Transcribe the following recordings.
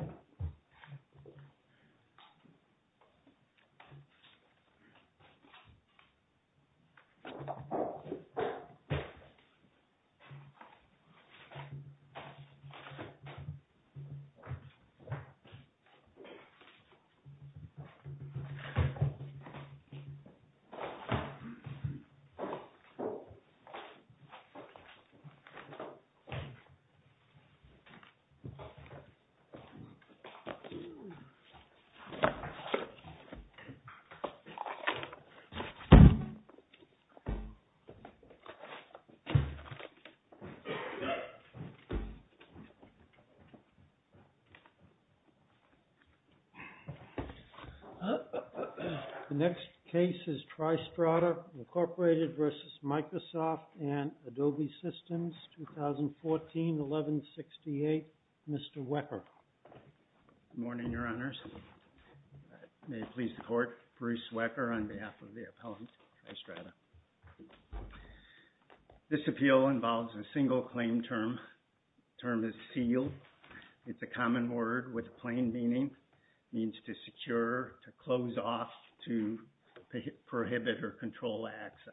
v. Microsoft, Inc. The next case is Tristrata, Incorporated v. Microsoft and Adobe Systems, 2014-11-68. Mr. Wecker. Good morning, Your Honors. May it please the Court, Bruce Wecker on behalf of the appellant Tristrata. This appeal involves a single claim term. The term is seal. It's a common word with a plain meaning. It means to secure, to close off, to prohibit or control access.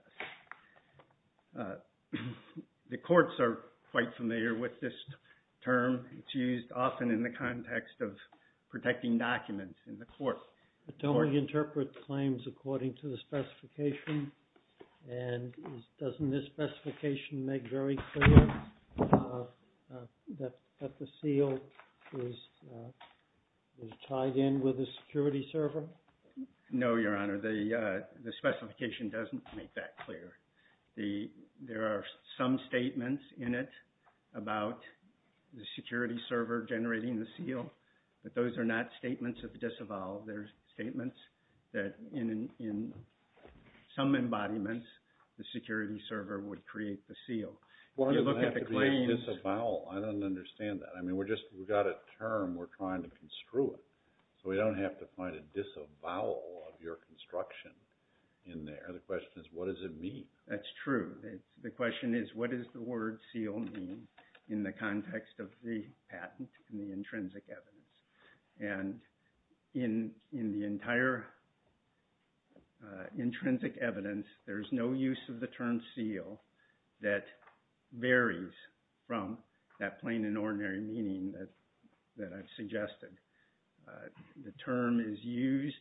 The courts are quite familiar with this term. It's used often in the context of protecting documents in the court. But don't we interpret claims according to the specification? And doesn't this specification make very clear that the seal is tied in with a security server? No, Your Honor. The specification doesn't make that clear. There are some statements in it about the security server generating the seal, but those are not statements of disavowal. They're statements that in some embodiments, the security server would create the seal. Well, it doesn't have to be a disavowal. I don't understand that. I mean, we've got a disavowal of your construction in there. The question is, what does it mean? That's true. The question is, what does the word seal mean in the context of the patent and the intrinsic evidence? And in the entire intrinsic evidence, there's no use of the term seal that varies from that plain and ordinary meaning that I've suggested. The term is used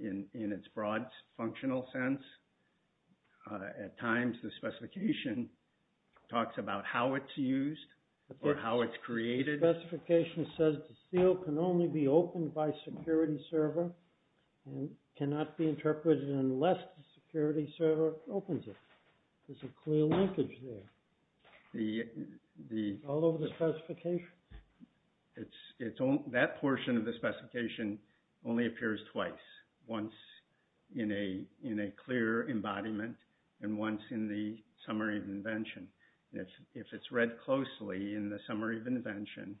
in its broad functional sense. At times, the specification talks about how it's used or how it's created. The specification says the seal can only be opened by a security server and cannot be interpreted unless the security server opens it. There's a clear linkage there. All over the specification? That portion of the specification only appears twice, once in a clear embodiment and once in the summary of invention. If it's read closely in the summary of invention,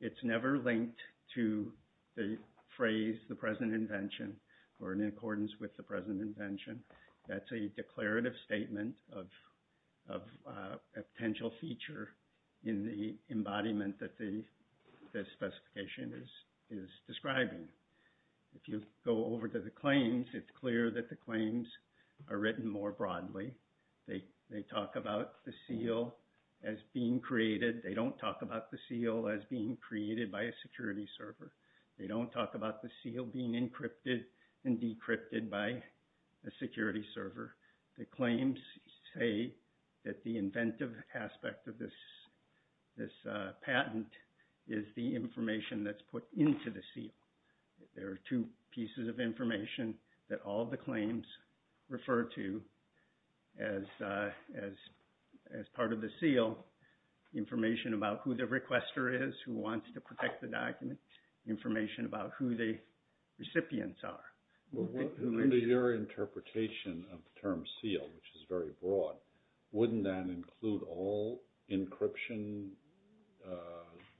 it's never linked to the phrase, the present invention, or in accordance with the present invention. That's a declarative statement of a potential feature in the embodiment that the specification is describing. If you go over to the claims, it's clear that the claims are written more broadly. They talk about the seal as being created. They don't talk about the seal as being created by a security server. They don't talk about the seal being encrypted and decrypted by a security server. The claims say that the inventive aspect of this patent is the information that's put into the seal. There are two pieces of information that all the claims refer to as part of the seal. Information about who the requester is, who wants to protect the document, information about who the recipients are. What is your interpretation of the term seal, which is very broad? Wouldn't that include all encryption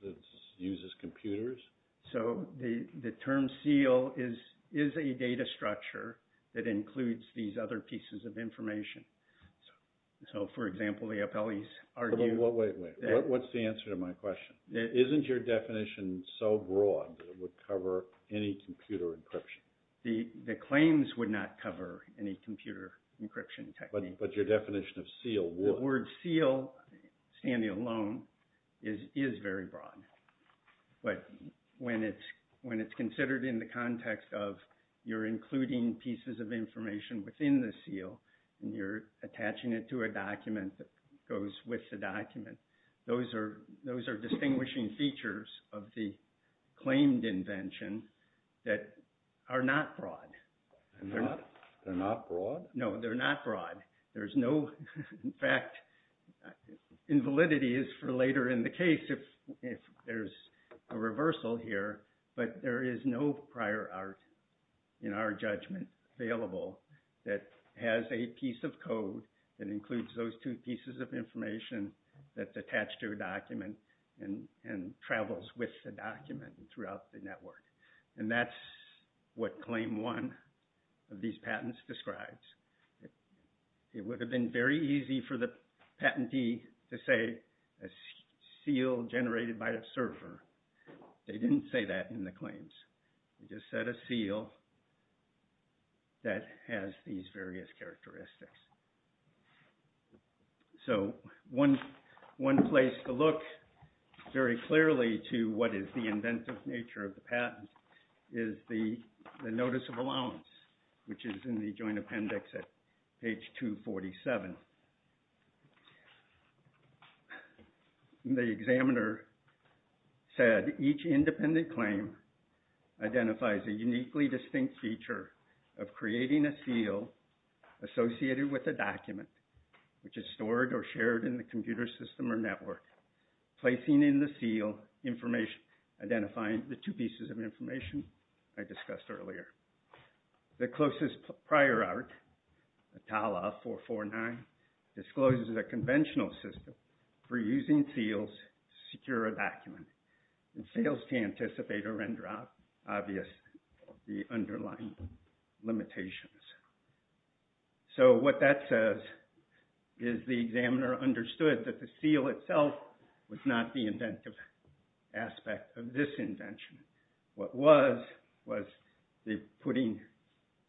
that's used as computers? The term seal is a data structure that includes these other pieces of information. For example, the appellees argue that... It's so broad that it would cover any computer encryption. The claims would not cover any computer encryption techniques. But your definition of seal would. The word seal, standing alone, is very broad. But when it's considered in the context of you're including pieces of information within the seal and you're attaching it to a document that goes with the document, those are distinguishing features of the claimed invention that are not broad. They're not? They're not broad? No, they're not broad. In fact, invalidity is for later in the case if there's a reversal here. But there is no prior art in our judgment available that has a piece of code that includes those two pieces of information that's attached to a document and travels with the document throughout the network. And that's what Claim 1 of these patents describes. It would have been very easy for the patentee to say a seal generated by a surfer. They didn't say that in the claims. They just said a seal that has these various characteristics. So one place to look very clearly to what is the inventive nature of the patent is the Notice of Allowance, which is in the Joint Appendix at page 247. The examiner said each independent claim identifies a uniquely distinct feature of creating a seal associated with a document which is stored or shared in the computer system or network, placing in the seal identifying the two pieces of information I discussed earlier. The closest prior art, TALA 449, discloses a conventional system for using seals to secure a document and fails to anticipate or render obvious the underlying limitations. So what that says is the examiner understood that the seal itself was not the inventive aspect of this invention. What was was the putting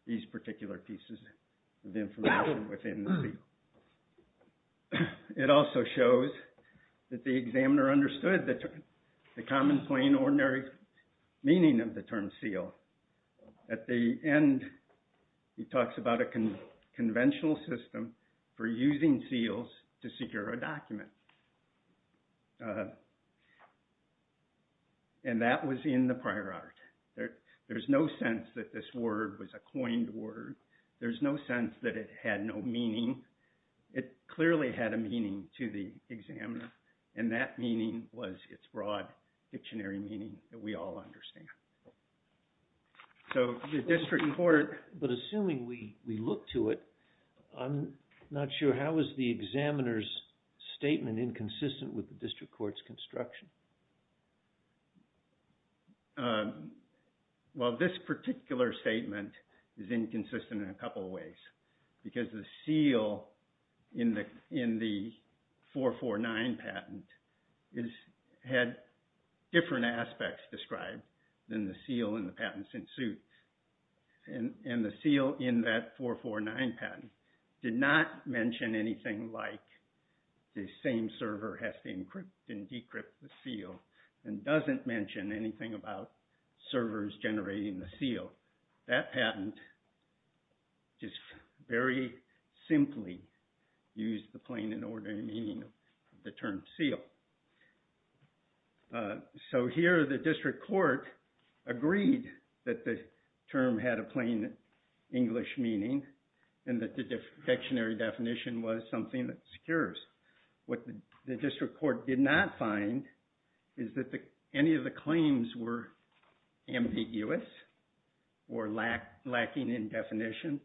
these particular pieces of information within the seal. It also shows that the examiner understood the common plain ordinary meaning of the term seal. At the end, he talks about a conventional system for using seals to secure a document. And that was in the prior art. There's no sense that this word was a coined word. There's no sense that it had no meaning. It clearly had a meaning to the examiner. And that meaning was its broad dictionary meaning that we all understand. So the district court... Well, this particular statement is inconsistent in a couple of ways because the seal in the 449 patent had different aspects described than the seal in the patent suit. And the seal in that 449 patent did not mention anything like the same server has to encrypt and decrypt the seal and doesn't mention anything about servers generating the seal. That patent just very simply used the plain and ordinary meaning of the term seal. So here the district court agreed that the term had a plain English meaning and that the dictionary definition was something that secures. What the district court did not find is that any of the claims were ambiguous or lacking in definition.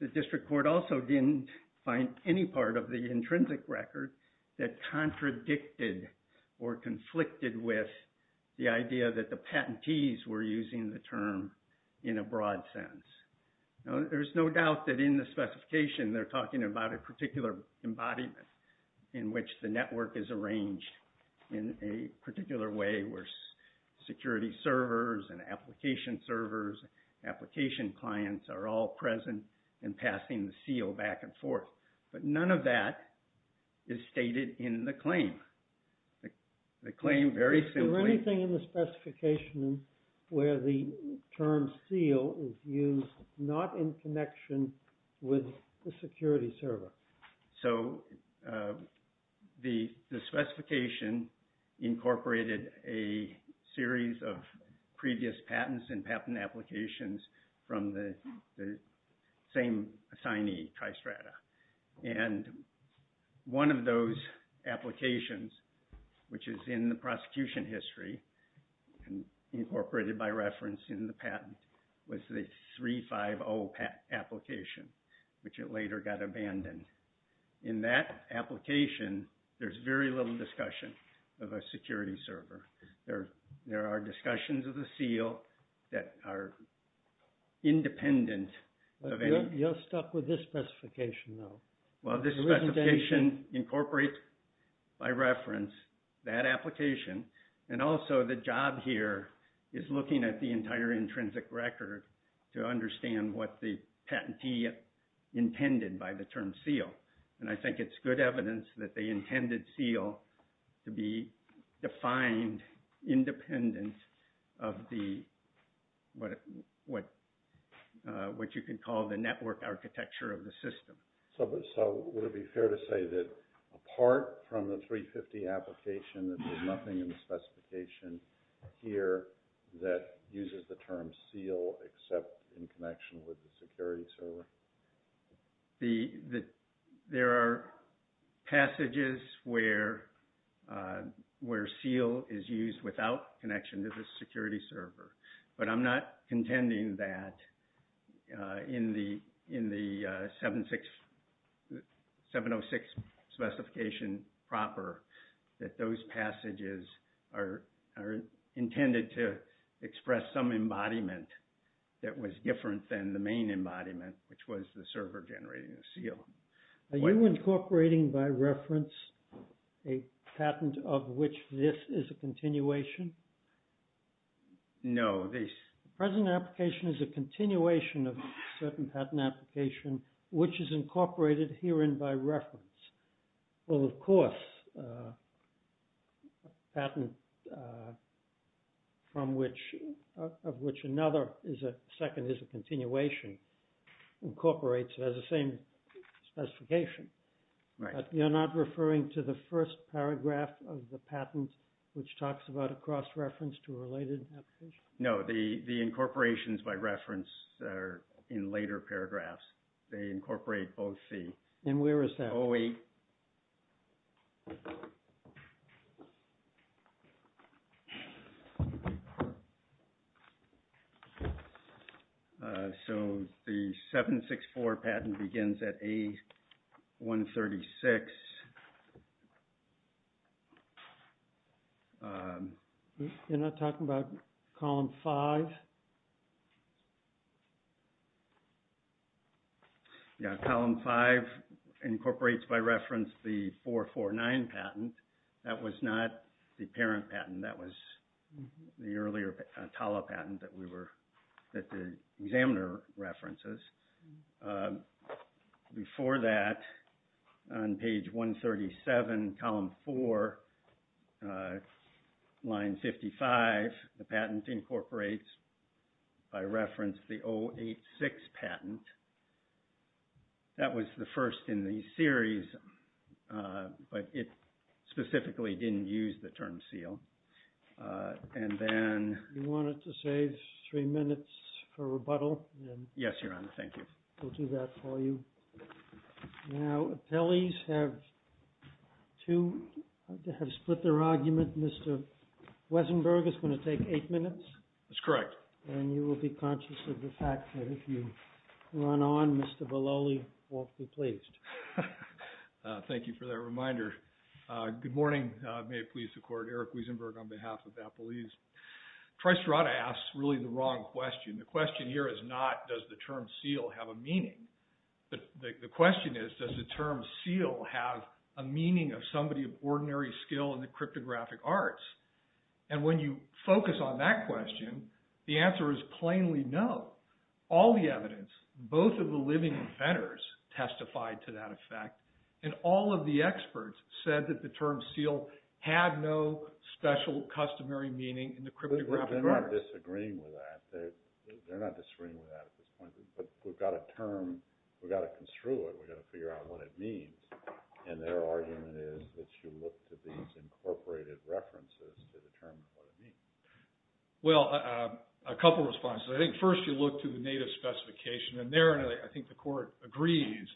The district court also didn't find any part of the intrinsic record that contradicted or conflicted with the idea that the patentees were using the term in a broad sense. There's no doubt that in the specification they're talking about a particular embodiment in which the network is arranged in a particular way where security servers and application servers, application clients are all present and passing the seal back and forth. But none of that is stated in the claim. The claim very simply... Is there anything in the specification where the term seal is used not in connection with the security server? So the specification incorporated a series of previous patents and patent applications from the same assignee, Tristrata. And one of those applications which is in the prosecution history and incorporated by reference in the patent was the 350 application which it later got abandoned. In that application, there's very little discussion of a security server. There are discussions of the seal that are independent of any... Well, this specification incorporates by reference that application and also the job here is looking at the entire intrinsic record to understand what the patentee intended by the term seal. And I think it's good evidence that they intended seal to be defined independent of what you can call the network architecture of the system. So would it be fair to say that apart from the 350 application that there's nothing in the specification here that uses the term seal except in connection with the security server? There are passages where seal is used without connection to the security server. But I'm not contending that in the 706 specification proper that those passages are intended to express some embodiment that was different than the main embodiment which was the server generating the seal. Are you incorporating by reference a patent of which this is a continuation? No. The present application is a continuation of certain patent application which is incorporated herein by reference. Well, of course, a patent of which another second is a continuation incorporates it as the same specification. But you're not referring to the first paragraph of the patent which talks about a cross-reference to a related application? No, the incorporations by reference are in later paragraphs. They incorporate both the... And where is that? 08. So the 764 patent begins at A136. You're not talking about column 5? Yeah, column 5 incorporates by reference the 449 patent. That was not the parent patent. That was the earlier TALA patent that the examiner references. Before that, on page 137, column 4, line 55, the patent incorporates by reference the 086 patent. That was the first in the series, but it specifically didn't use the term seal. And then... You wanted to save three minutes for rebuttal? Yes, Your Honor. Thank you. We'll do that for you. Now, appellees have split their argument. Mr. Wiesenberg is going to take eight minutes. That's correct. And you will be conscious of the fact that if you run on, Mr. Belloli won't be pleased. Thank you for that reminder. Good morning. May it please the Court. Eric Wiesenberg on behalf of appellees. Tricerata asks really the wrong question. The question here is not does the term seal have a meaning, but the question is does the term seal have a meaning of somebody of ordinary skill in the cryptographic arts? And when you focus on that question, the answer is plainly no. All the evidence, both of the living inventors testified to that effect, and all of the experts said that the term seal had no special customary meaning in the cryptographic arts. They're not disagreeing with that. They're not disagreeing with that at this point, but we've got a term. We've got to construe it. We've got to figure out what it means. And their argument is that you look to these incorporated references to determine what it means. Well, a couple of responses. I think first you look to the native specification, and there I think the Court agrees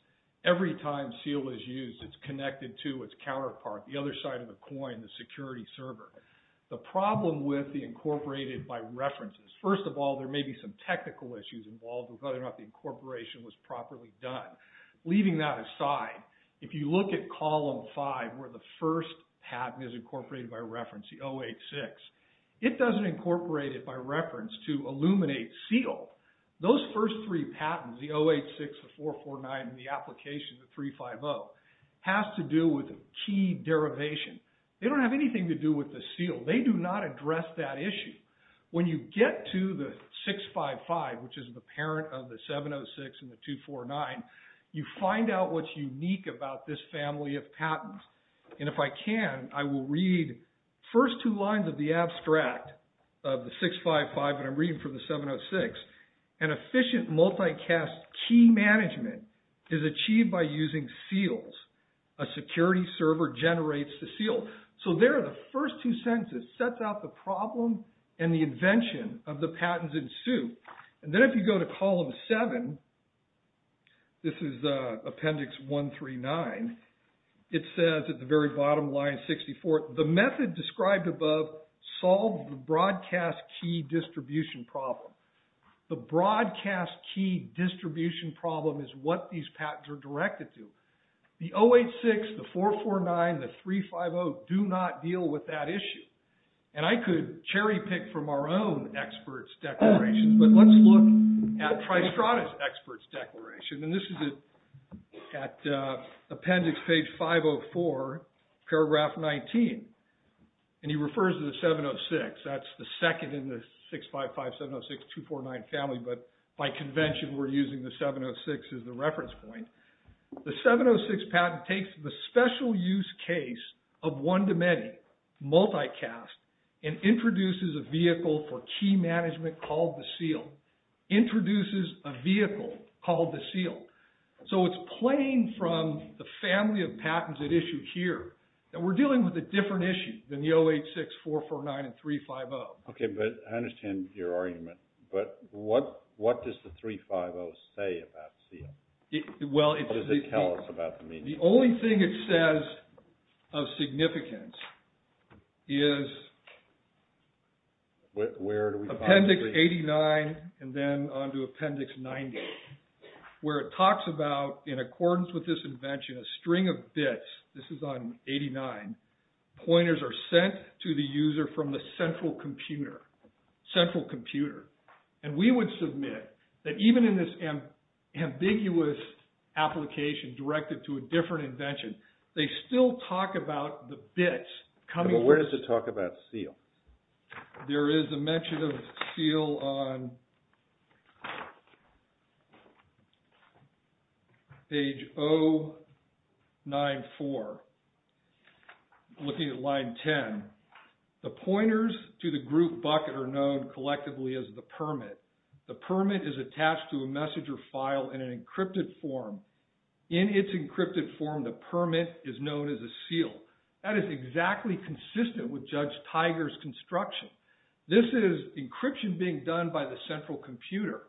every time seal is used, it's connected to its counterpart, the other side of the coin, the security server. The problem with the incorporated by references, first of all, there may be some technical issues involved with whether or not the incorporation was properly done. Leaving that aside, if you look at column five where the first patent is incorporated by reference, the 086, it doesn't incorporate it by reference to illuminate seal. Those first three patents, the 086, the 449, and the application, the 350, has to do with a key derivation. They don't have anything to do with the seal. They do not address that issue. When you get to the 655, which is the parent of the 706 and the 249, you find out what's unique about this family of patents. And if I can, I will read the first two lines of the abstract of the 655, and I'm reading from the 706. An efficient multicast key management is achieved by using seals. A security server generates the seal. So there are the first two sentences. It sets out the problem and the invention of the patents in Sioux. And then if you go to column seven, this is appendix 139, it says at the very bottom line, 64, the method described above solves the broadcast key distribution problem. The broadcast key distribution problem is what these patents are directed to. The 086, the 449, the 350 do not deal with that issue. And I could cherry pick from our own experts' declarations, but let's look at Tristrada's experts' declaration. And this is at appendix page 504, paragraph 19. And he refers to the 706. That's the second in the 655, 706, 249 family, but by convention we're using the 706 as the reference point. The 706 patent takes the special use case of one to many, multicast, and introduces a vehicle for key management called the seal. Introduces a vehicle called the seal. So it's playing from the family of patents at issue here. And we're dealing with a different issue than the 086, 449, and 350. Okay, but I understand your argument. But what does the 350 say about seal? What does it tell us about the meaning? The only thing it says of significance is appendix 89 and then on to appendix 90, where it talks about, in accordance with this invention, a string of bits. This is on 89. Pointers are sent to the user from the central computer. Central computer. And we would submit that even in this ambiguous application directed to a different invention, they still talk about the bits coming. But where does it talk about seal? There is a mention of seal on page 094, looking at line 10. The pointers to the group bucket are known collectively as the permit. The permit is attached to a message or file in an encrypted form. In its encrypted form, the permit is known as a seal. That is exactly consistent with Judge Tiger's construction. This is encryption being done by the central computer.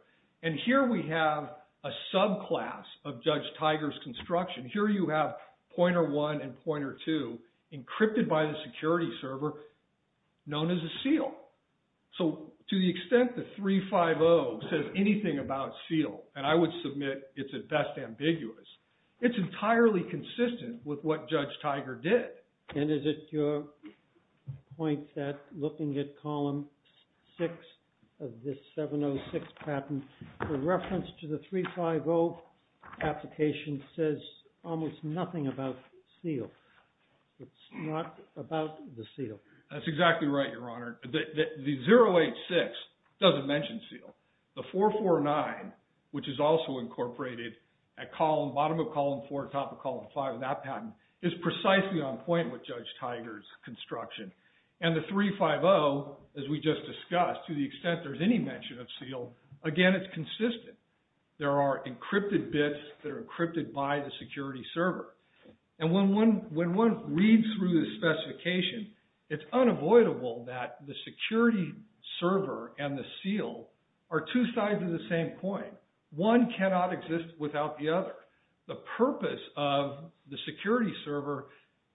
And here we have a subclass of Judge Tiger's construction. Here you have pointer 1 and pointer 2, encrypted by the security server, known as a seal. So to the extent the 350 says anything about seal, and I would submit it's at best ambiguous, it's entirely consistent with what Judge Tiger did. And is it your point that looking at column 6 of this 706 patent, the reference to the 350 application says almost nothing about seal. It's not about the seal. That's exactly right, Your Honor. The 086 doesn't mention seal. The 449, which is also incorporated at bottom of column 4, top of column 5 of that patent, is precisely on point with Judge Tiger's construction. And the 350, as we just discussed, to the extent there's any mention of seal, again, it's consistent. There are encrypted bits that are encrypted by the security server. And when one reads through the specification, it's unavoidable that the security server and the seal are two sides of the same coin. One cannot exist without the other. The purpose of the security server,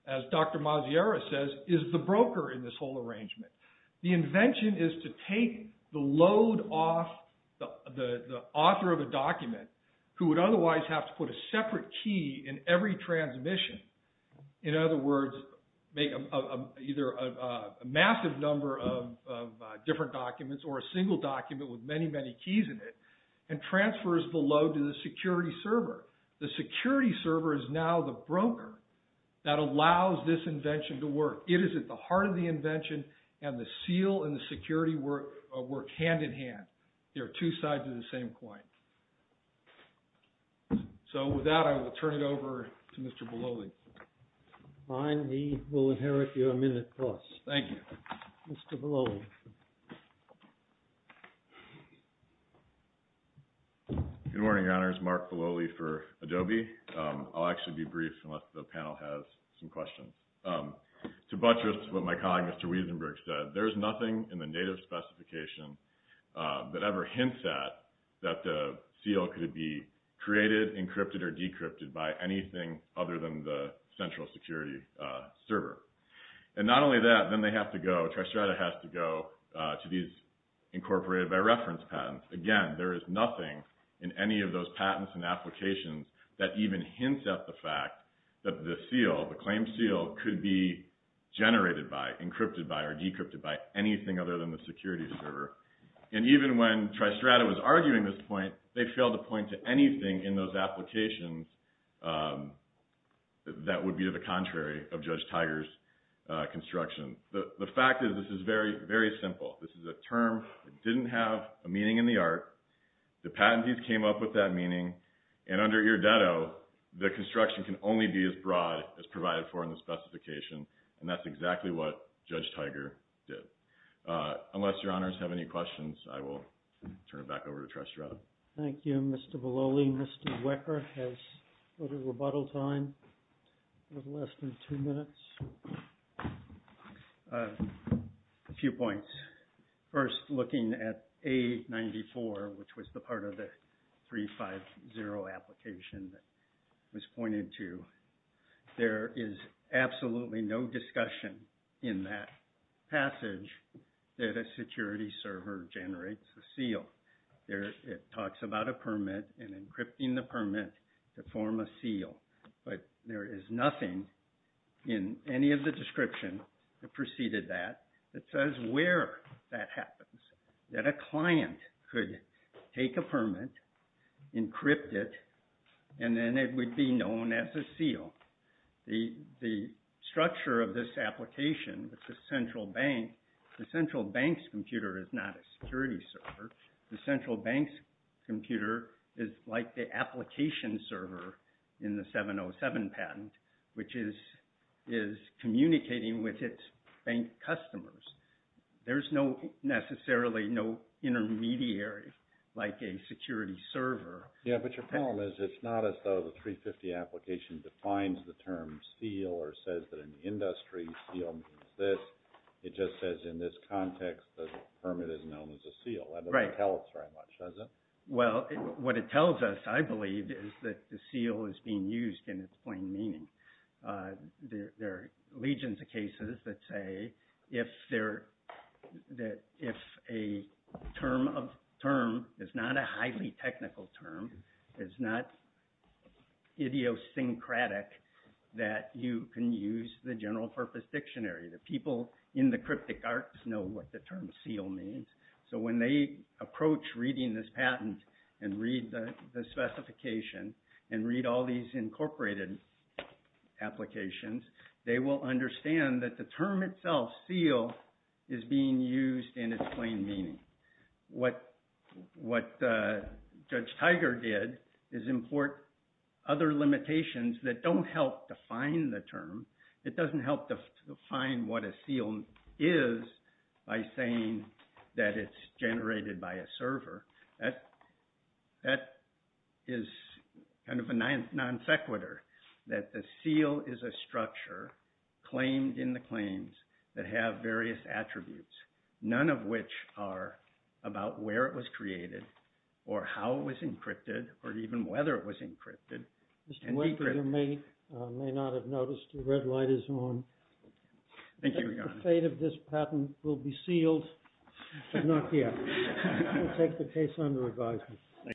as Dr. Maziera says, is the broker in this whole arrangement. The invention is to take the load off the author of a document, who would otherwise have to put a separate key in every transmission, in other words, make either a massive number of different documents or a single document with many, many keys in it, and transfers the load to the security server. The security server is now the broker that allows this invention to work. It is at the heart of the invention, and the seal and the security work hand-in-hand. They are two sides of the same coin. So with that, I will turn it over to Mr. Beloli. Fine. He will inherit your minute plus. Thank you. Mr. Beloli. Good morning, Your Honors. Mark Beloli for Adobe. I'll actually be brief unless the panel has some questions. To buttress what my colleague, Mr. Wiesenberg, said, there is nothing in the native specification that ever hints at that the seal could be created, encrypted, or decrypted by anything other than the central security server. And not only that, then they have to go, Tristrata has to go to these incorporated by reference patents. Again, there is nothing in any of those patents and applications that even hints at the fact that the seal, the claimed seal, could be generated by, encrypted by, or decrypted by anything other than the security server. And even when Tristrata was arguing this point, they failed to point to anything in those applications that would be the contrary of Judge Tiger's construction. The fact is this is very, very simple. This is a term that didn't have a meaning in the art. The patentees came up with that meaning. And under Irrededo, the construction can only be as broad as provided for in the specification. And that's exactly what Judge Tiger did. Unless Your Honors have any questions, I will turn it back over to Tristrata. Thank you, Mr. Beloli. Mr. Wecker has a little rebuttal time of less than two minutes. A few points. First, looking at A94, which was the part of the 350 application that was pointed to, there is absolutely no discussion in that passage that a security server generates a seal. It talks about a permit and encrypting the permit to form a seal. But there is nothing in any of the description that preceded that that says where that happens, that a client could take a permit, encrypt it, and then it would be known as a seal. The structure of this application with the central bank, the central bank's computer is not a security server. The central bank's computer is like the application server in the 707 patent, which is communicating with its bank customers. There's necessarily no intermediary like a security server. Yeah, but your problem is it's not as though the 350 application defines the term seal or says that in the industry seal means this. It just says in this context the permit is known as a seal. That doesn't tell us very much, does it? Well, what it tells us, I believe, is that the seal is being used in its plain meaning. There are legions of cases that say if a term is not a highly technical term, is not idiosyncratic, that you can use the general purpose dictionary. The people in the cryptic arts know what the term seal means. So when they approach reading this patent and read the specification and read all these incorporated applications, they will understand that the term itself, seal, is being used in its plain meaning. What Judge Tiger did is import other limitations that don't help define the term. It doesn't help define what a seal is by saying that it's generated by a server. That is kind of a non sequitur, that the seal is a structure claimed in the claims that have various attributes, none of which are about where it was created or how it was encrypted or even whether it was encrypted. Mr. Wakefield may not have noticed the red light is on. The fate of this patent will be sealed, but not yet. We'll take the case under advisement.